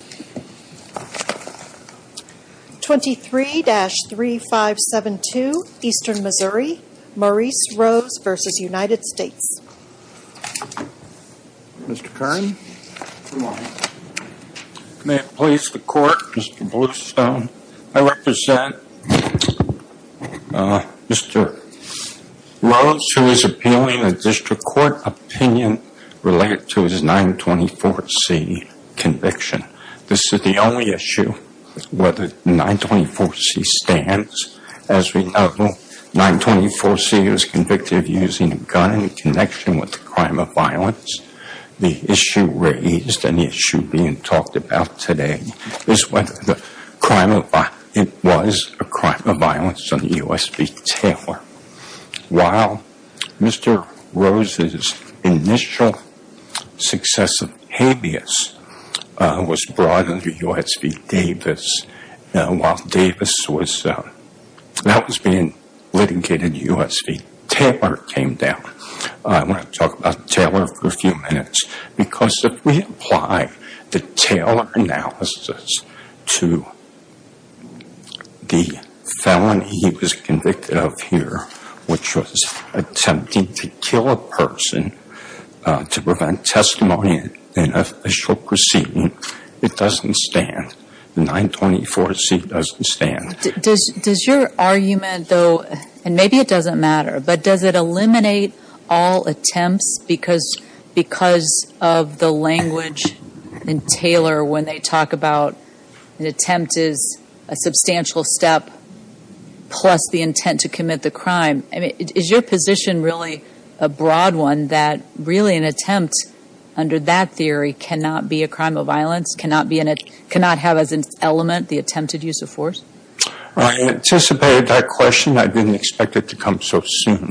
May it please the court, Mr. Bluestone. I represent Mr. Rose, who is appealing a district court opinion related to his 924C conviction. This is the only issue where the 924C stands. As we know, 924C is convicted of using a gun in connection with a crime of violence. The issue raised and the issue being talked about today is whether it was a crime of violence on the U.S. v. Taylor. While Mr. Rose's initial success of habeas was brought under U.S. v. Davis, while Davis was being litigated, U.S. v. Taylor came down. I want to talk about the felony he was convicted of here, which was attempting to kill a person to prevent testimony in an official proceeding. It doesn't stand. The 924C doesn't stand. Does your argument though, and maybe it doesn't matter, but does it eliminate all attempts because of the language in Taylor when they talk about an attempt is a substantial step plus the intent to commit the crime? Is your position really a broad one that really an attempt under that theory cannot be a crime of violence, cannot have as an element the attempted use of force? I anticipated that question. I didn't expect it to come so soon.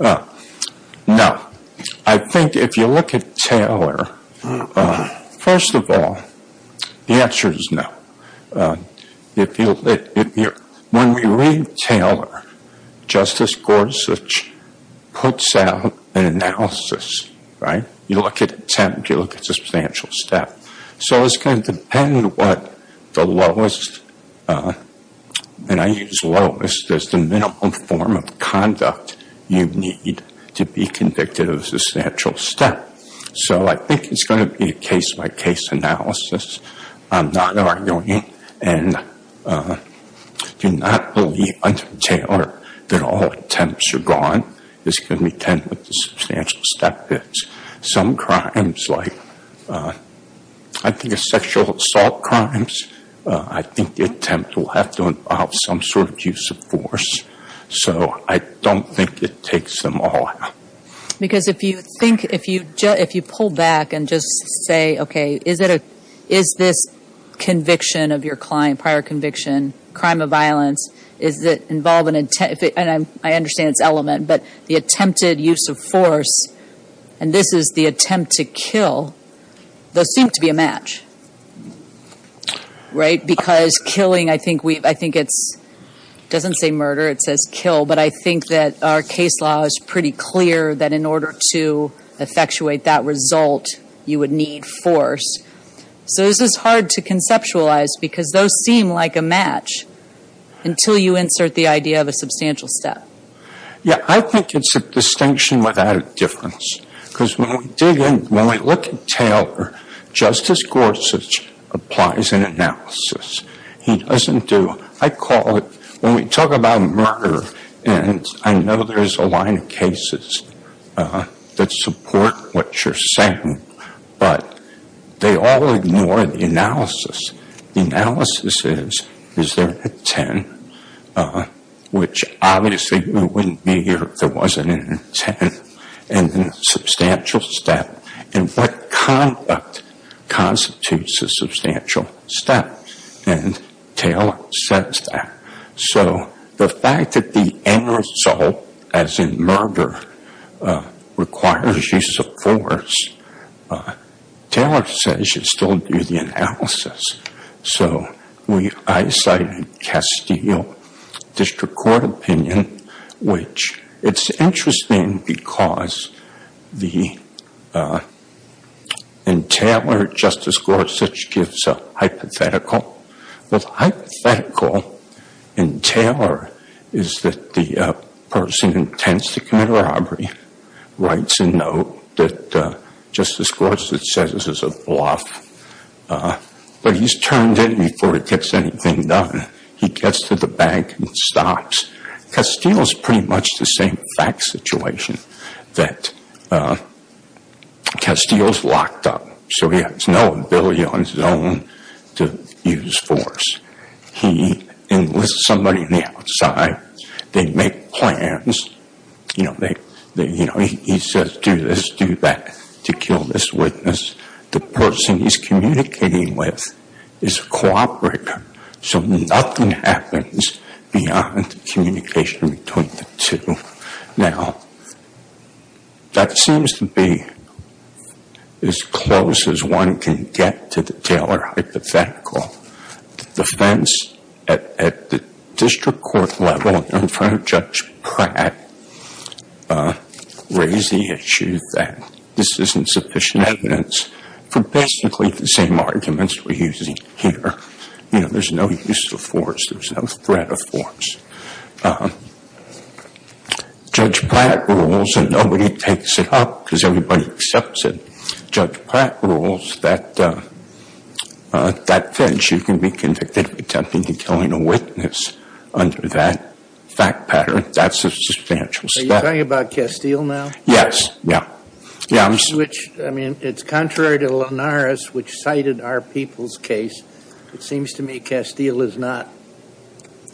No. I think if you look at Taylor, first of all, the answer is no. When we read Taylor, Justice Gorsuch puts out an analysis, right? You look at attempt, you look at substantial step. So it's going to depend what the lowest, and I use lowest as the minimum form of conduct you need to be convicted of a substantial step. So I think it's going to be a case-by-case analysis. I'm not arguing and do not believe under Taylor that all attempts are gone. It's going to depend what the substantial step is. Some crimes like, I think it's sexual assault crimes, I think the attempt will have to involve some sort of use of force. So I don't think it takes them all out. Because if you think, if you pull back and just say, okay, is this conviction of your client, prior conviction, crime of violence, is it involved in intent, and I understand it's element, but the attempted use of force, and this is the attempt to kill, those seem to be a match, right? Because killing, I think it's, it doesn't say murder, it says kill, but I think that our case law is pretty clear that in order to effectuate that result, you would need force. So this is hard to conceptualize because those seem like a match until you insert the idea of a substantial step. Yeah, I think it's a distinction without a difference. Because when we dig in, when we look at Taylor, Justice Gorsuch applies an analysis. He doesn't do, I call it, when we talk about murder, and I know there's a line of cases that support what you're saying, but they all ignore the analysis. The analysis is, is there intent, which obviously we wouldn't be here if there wasn't an intent, and a substantial step, and what conduct constitutes a substantial step, and Taylor says that. And so the fact that the end result, as in murder, requires use of force, Taylor says you still do the analysis. So I cited Castile District Court opinion, which it's interesting because the, in Taylor, Justice Gorsuch gives a hypothetical. The hypothetical in Taylor is that the person intends to commit a robbery, writes a note that Justice Gorsuch says is a bluff, but he's turned in before he gets anything done. He gets to the bank and stops. Castile's pretty much the same fact situation that Castile's locked up, so he has no ability on his own to use force. He enlists somebody on the outside, they make plans, you know, he says do this, do that to kill this witness. The person he's communicating with is a cooperator, so nothing happens beyond the communication between the two. Now, that seems to be as close as one can get to the Taylor hypothetical. The defense at the district court level in front of Judge Pratt raised the issue that this isn't sufficient evidence for basically the same arguments we're using here. You know, there's no use of force, there's no threat of force. Judge Pratt rules, and nobody takes it up because everybody accepts it, Judge Pratt rules that that bench, you can be convicted of attempting to kill a witness under that fact pattern. That's a substantial step. Are you talking about Castile now? Yes. Yeah. Which, I mean, it's contrary to Linares, which cited our people's case. It seems to me Castile is not,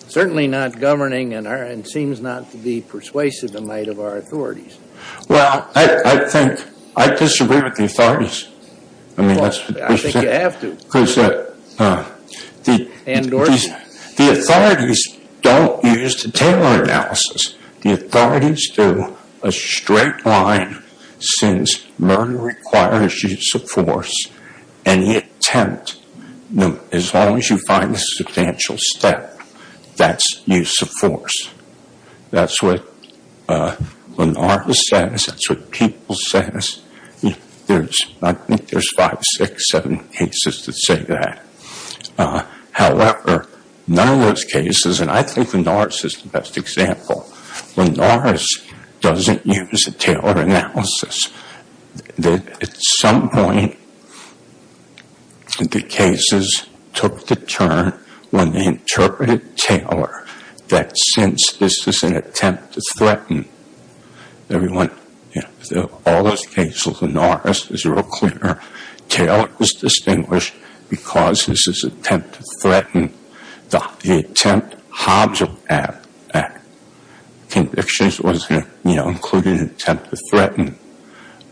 certainly not governing and seems not to be persuasive in light of our authorities. Well, I think, I disagree with the authorities. I mean, that's what we said. I think you have to. Because the authorities don't use the Taylor analysis. The authorities do a straight line since murder requires use of force. Any attempt, as long as you find a substantial step, that's use of force. That's what Linares says, that's what people says. I think there's five, six, seven cases that say that. However, none of those cases, and I think Linares is the best example. Linares doesn't use the Taylor analysis. At some point, the cases took the turn when they interpreted Taylor that since this is an attempt to threaten everyone, all those cases, Linares is real clear. Taylor is distinguished because this is an attempt to threaten. The attempt, Hobbs Act, convictions was, you know, included an attempt to threaten.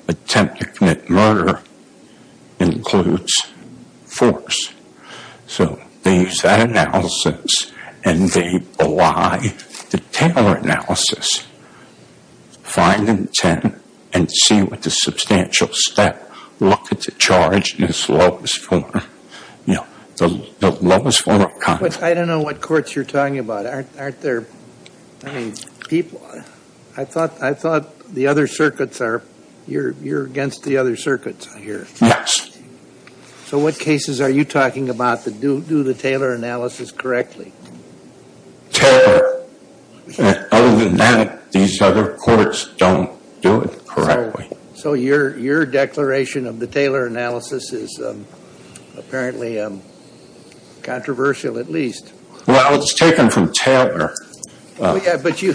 Attempt to commit murder includes force. So they use that analysis and they belie the Taylor analysis. Find intent and see what the substantial step, look at the charge in its lowest form, you know, the lowest form of conduct. I don't know what courts you're talking about. Aren't there, I mean, people, I thought the other circuits are, you're against the other circuits, I hear. Yes. So what cases are you talking about that do the Taylor analysis correctly? Taylor. Other than that, these other courts don't do it correctly. So your declaration of the Taylor analysis is apparently controversial, at least. Well, it's taken from Taylor. Yeah, but you,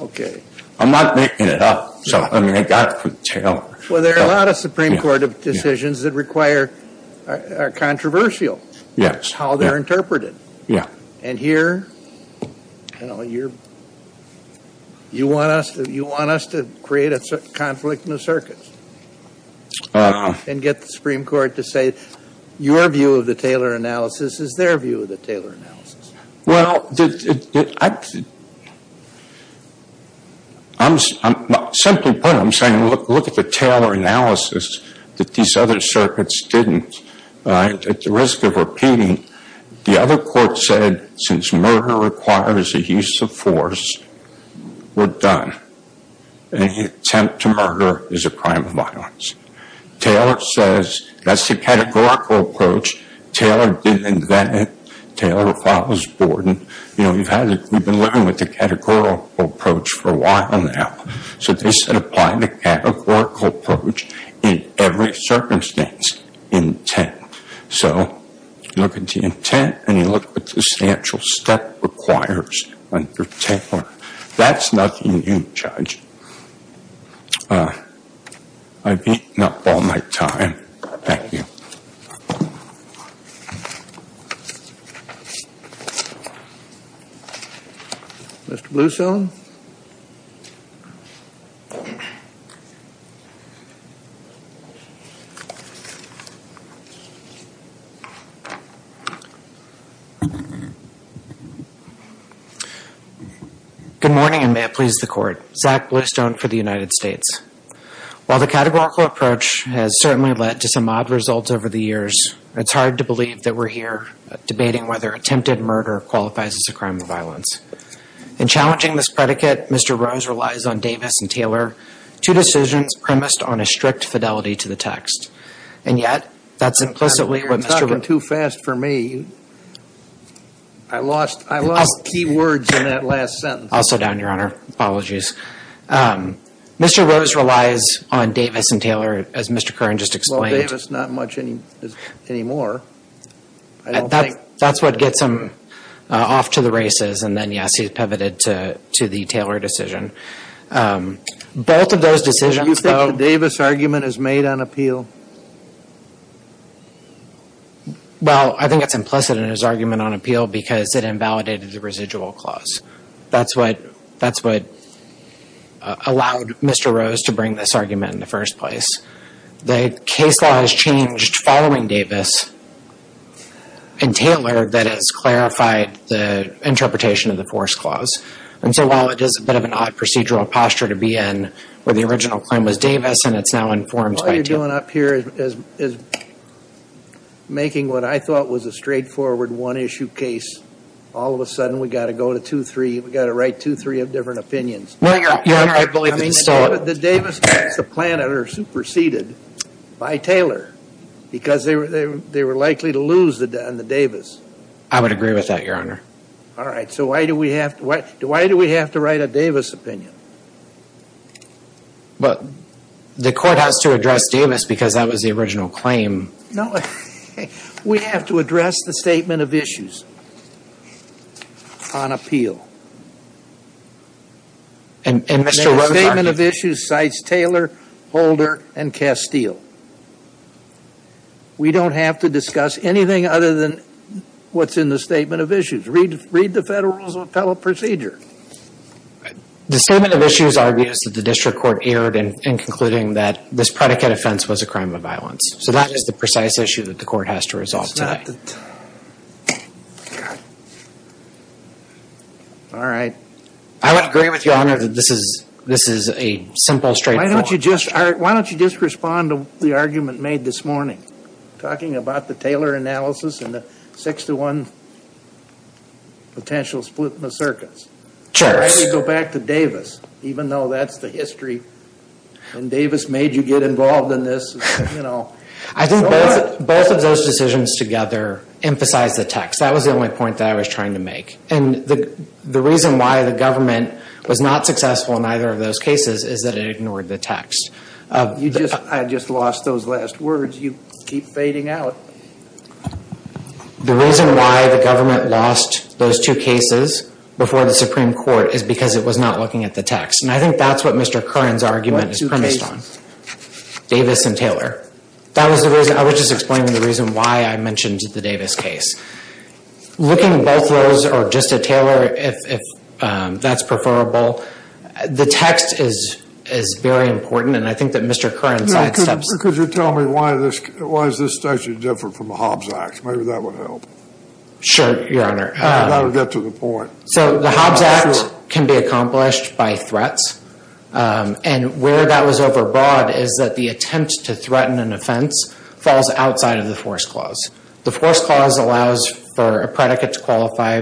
okay. I'm not making it up. So, I mean, I got it from Taylor. Well, there are a lot of Supreme Court decisions that require, are controversial. Yes. How they're interpreted. Yeah. And here, you know, you're, you want us to, you want us to create a conflict in the circuits. And get the Supreme Court to say, your view of the Taylor analysis is their view of the Taylor analysis. Well, I'm, simply put, I'm saying look at the Taylor analysis that these other circuits didn't, at the risk of repeating, the other court said, since murder requires a use of force, we're done. Any attempt to murder is a crime of violence. Taylor says, that's the categorical approach. Taylor didn't invent it. Taylor follows Borden. You know, we've had, we've been living with the categorical approach for a while now. So, they said, apply the categorical approach in every circumstance, intent. So, look at the intent, and you look at the substantial step requires under Taylor. That's nothing new, Judge. I've eaten up all my time. Thank you. Mr. Bluestone. Good morning, and may it please the court. Zach Bluestone for the United States. While the categorical approach has certainly led to some odd results over the years, it's hard to believe that we're here debating whether attempted murder qualifies as a crime of violence. In challenging this predicate, Mr. Rose relies on Davis and Taylor, two decisions premised on a strict fidelity to the text. And yet, that's implicitly what Mr. Rose. You're talking too fast for me. I lost key words in that last sentence. I'll slow down, Your Honor. Apologies. Mr. Rose relies on Davis and Taylor, as Mr. Curran just explained. Well, Davis not much anymore. I don't think. That's what gets him off to the races. And then, yes, he's pivoted to the Taylor decision. Both of those decisions. Do you think the Davis argument is made on appeal? Well, I think it's implicit in his argument on appeal because it invalidated the residual clause. That's what allowed Mr. Rose to bring this argument into first place. The case law has changed following Davis and Taylor that has clarified the interpretation of the force clause. And so, while it is a bit of an odd procedural posture to be in where the original claim was Davis and it's now informed by Taylor. All you're doing up here is making what I thought was a straightforward one-issue case. All of a sudden, we've got to go to two, three. We've got to write two, three of different opinions. Well, Your Honor, I believe it's still. The Davis case, the plan that are superseded by Taylor because they were likely to lose on the Davis. I would agree with that, Your Honor. All right. So, why do we have to write a Davis opinion? Well, the court has to address Davis because that was the original claim. No. We have to address the statement of issues on appeal. And Mr. Rose argued. The statement of issues cites Taylor, Holder, and Castile. We don't have to discuss anything other than what's in the statement of issues. Read the Federal Rules of Appellate Procedure. The statement of issues argues that the district court erred in concluding that this predicate offense was a crime of violence. So, that is the precise issue that the court has to resolve today. All right. I would agree with Your Honor that this is a simple, straightforward. Why don't you just respond to the argument made this morning? Talking about the Taylor analysis and the six to one potential split in the circuits. I would go back to Davis, even though that's the history. And Davis made you get involved in this. I think both of those decisions together emphasize the text. That was the only point that I was trying to make. And the reason why the government was not successful in either of those cases is that it ignored the text. I just lost those last words. You keep fading out. The reason why the government lost those two cases before the Supreme Court is because it was not looking at the text. And I think that's what Mr. Curran's argument is premised on. Davis and Taylor. That was the reason. I was just explaining the reason why I mentioned the Davis case. Looking at both those, or just at Taylor, if that's preferable. The text is very important. And I think that Mr. Curran's sidesteps. Could you tell me why this statute is different from the Hobbs Act? Maybe that would help. Sure, Your Honor. That would get to the point. So the Hobbs Act can be accomplished by threats. And where that was overbroad is that the attempt to threaten an offense falls outside of the force clause. The force clause allows for a predicate to qualify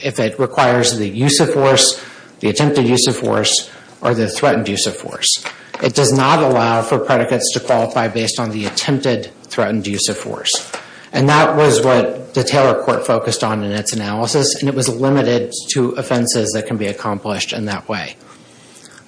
if it requires the use of force, the attempted use of force, or the threatened use of force. It does not allow for predicates to qualify based on the attempted threatened use of force. And that was what the Taylor court focused on in its analysis. And it was limited to offenses that can be accomplished in that way.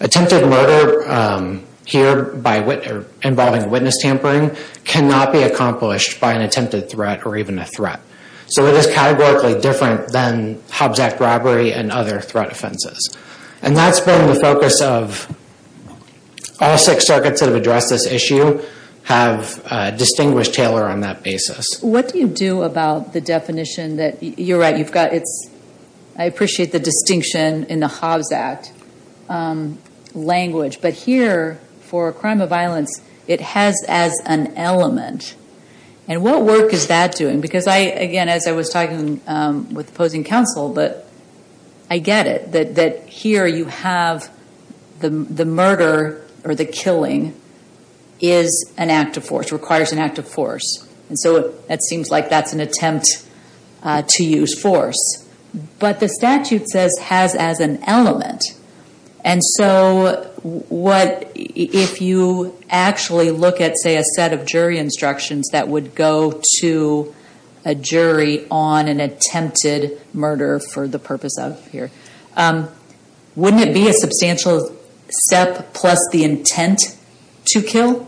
Attempted murder here involving witness tampering cannot be accomplished by an attempted threat or even a threat. So it is categorically different than Hobbs Act robbery and other threat offenses. And that's been the focus of all six circuits that have addressed this issue have distinguished Taylor on that basis. What do you do about the definition that, you're right, I appreciate the distinction in the Hobbs Act language, but here for a crime of violence it has as an element. And what work is that doing? Because I, again, as I was talking with opposing counsel, I get it. That here you have the murder or the killing is an act of force, requires an act of force. And so it seems like that's an attempt to use force. But the statute says has as an element. And so what, if you actually look at, say, a set of jury instructions that would go to a jury on an attempted murder for the purpose of here, wouldn't it be a substantial step plus the intent to kill?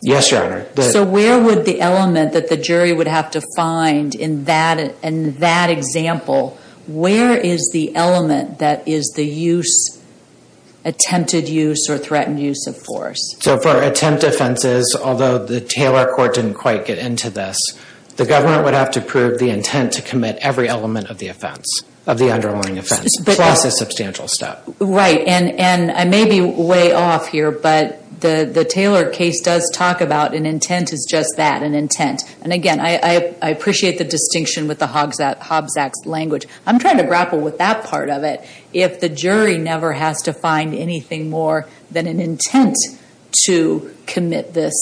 Yes, Your Honor. So where would the element that the jury would have to find in that example, where is the element that is the use, attempted use or threatened use of force? So for attempt offenses, although the Taylor court didn't quite get into this, the government would have to prove the intent to commit every element of the offense, of the underlying offense, plus a substantial step. Right. And I may be way off here, but the Taylor case does talk about an intent is just that, an intent. And, again, I appreciate the distinction with the Hobbs Act language. I'm trying to grapple with that part of it. If the jury never has to find anything more than an intent to commit this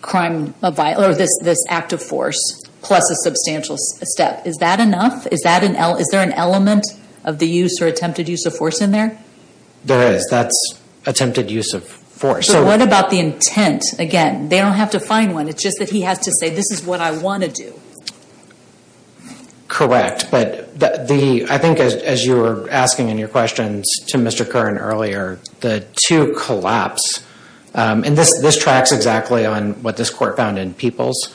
crime, or this act of force, plus a substantial step, is that enough? Is there an element of the use or attempted use of force in there? There is. That's attempted use of force. So what about the intent? Again, they don't have to find one. It's just that he has to say, this is what I want to do. Correct. But I think as you were asking in your questions to Mr. Curran earlier, the two collapse. And this tracks exactly on what this court found in Peoples,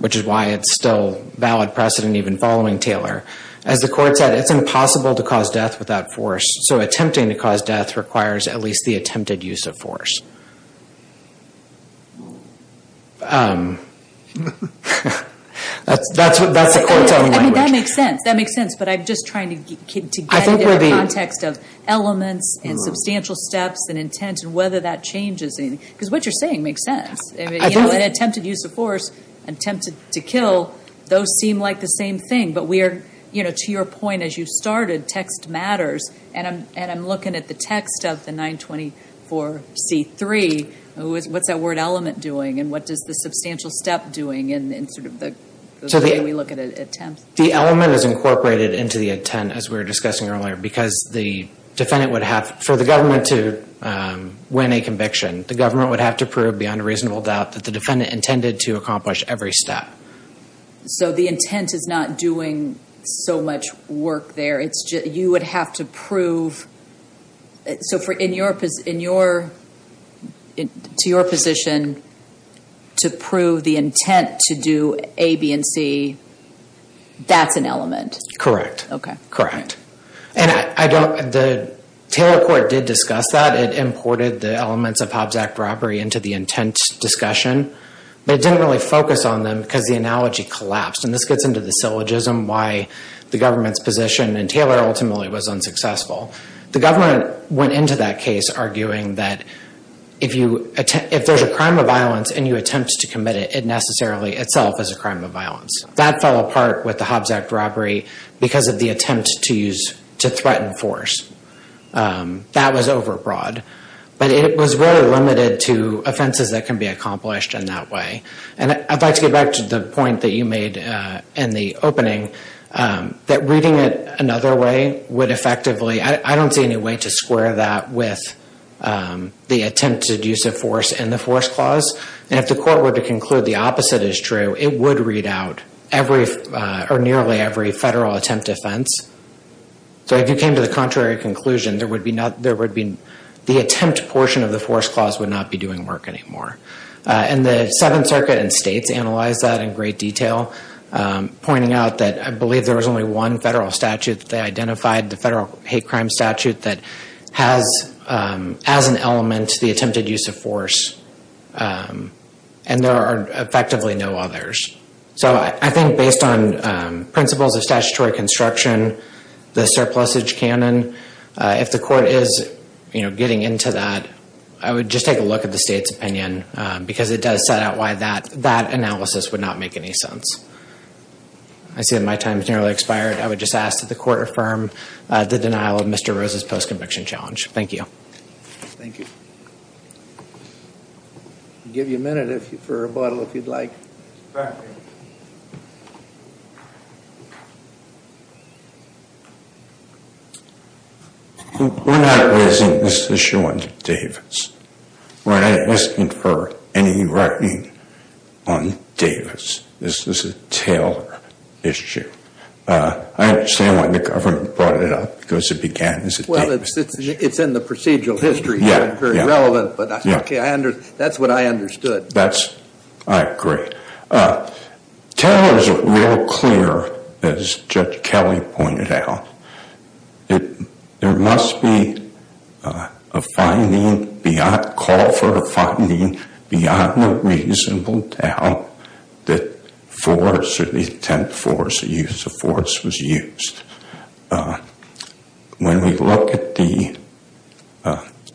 which is why it's still valid precedent even following Taylor. As the court said, it's impossible to cause death without force. So attempting to cause death requires at least the attempted use of force. That's the court's own language. I mean, that makes sense. That makes sense. But I'm just trying to get into the context of elements and substantial steps and intent and whether that changes anything. Because what you're saying makes sense. An attempted use of force, attempted to kill, those seem like the same thing. But to your point, as you started, text matters. And I'm looking at the text of the 924C3. What's that word element doing? And what does the substantial step doing in sort of the way we look at an attempt? The element is incorporated into the intent, as we were discussing earlier. Because for the government to win a conviction, the government would have to prove beyond a reasonable doubt that the defendant intended to accomplish every step. So the intent is not doing so much work there. You would have to prove. So to your position, to prove the intent to do A, B, and C, that's an element. Correct. Okay. Correct. And the Taylor court did discuss that. It imported the elements of Hobbs Act robbery into the intent discussion. But it didn't really focus on them because the analogy collapsed. And this gets into the syllogism, why the government's position. And Taylor ultimately was unsuccessful. The government went into that case arguing that if there's a crime of violence and you attempt to commit it, it necessarily itself is a crime of violence. That fell apart with the Hobbs Act robbery because of the attempt to threaten force. That was overbroad. But it was really limited to offenses that can be accomplished in that way. And I'd like to get back to the point that you made in the opening, that reading it another way would effectively, I don't see any way to square that with the attempted use of force in the force clause. And if the court were to conclude the opposite is true, it would read out nearly every federal attempt offense. So if you came to the contrary conclusion, the attempt portion of the force clause would not be doing work anymore. And the Seventh Circuit and states analyzed that in great detail, pointing out that I believe there was only one federal statute that they identified, the federal hate crime statute, that has as an element the attempted use of force. And there are effectively no others. So I think based on principles of statutory construction, the surplusage canon, if the court is getting into that, I would just take a look at the state's opinion because it does set out why that analysis would not make any sense. I see that my time has nearly expired. I would just ask that the court affirm the denial of Mr. Rose's post-conviction challenge. Thank you. Thank you. We'll give you a minute for rebuttal if you'd like. Thank you. We're not raising this issue on Davis. We're not asking for any writing on Davis. This is a Taylor issue. I understand why the government brought it up because it began as a Davis issue. Well, it's in the procedural history. Yeah, yeah. It's not very relevant, but that's what I understood. I agree. Taylor is real clear, as Judge Kelly pointed out, there must be a finding beyond, a call for a finding beyond a reasonable doubt that force or the attempt for use of force was used. When we look at the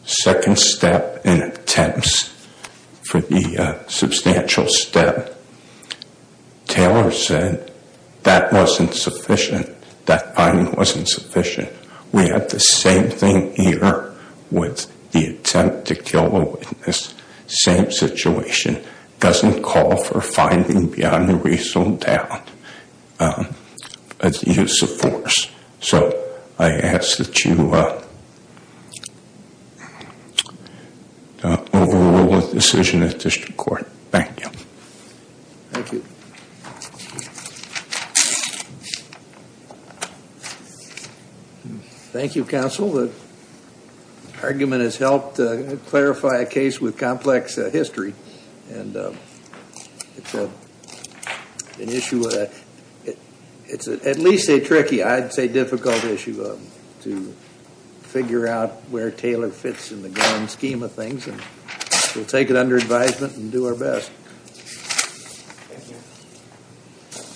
second step in attempts for the substantial step, Taylor said that wasn't sufficient. That finding wasn't sufficient. We have the same thing here with the attempt to kill a witness, same situation. Doesn't call for finding beyond a reasonable doubt, a use of force. I ask that you overrule the decision at district court. Thank you. Thank you. Thank you. Thank you, counsel. The argument has helped clarify a case with complex history. And it's an issue, it's at least a tricky, I'd say difficult issue to figure out where Taylor fits in the grand scheme of things. And we'll take it under advisement and do our best. Thank you.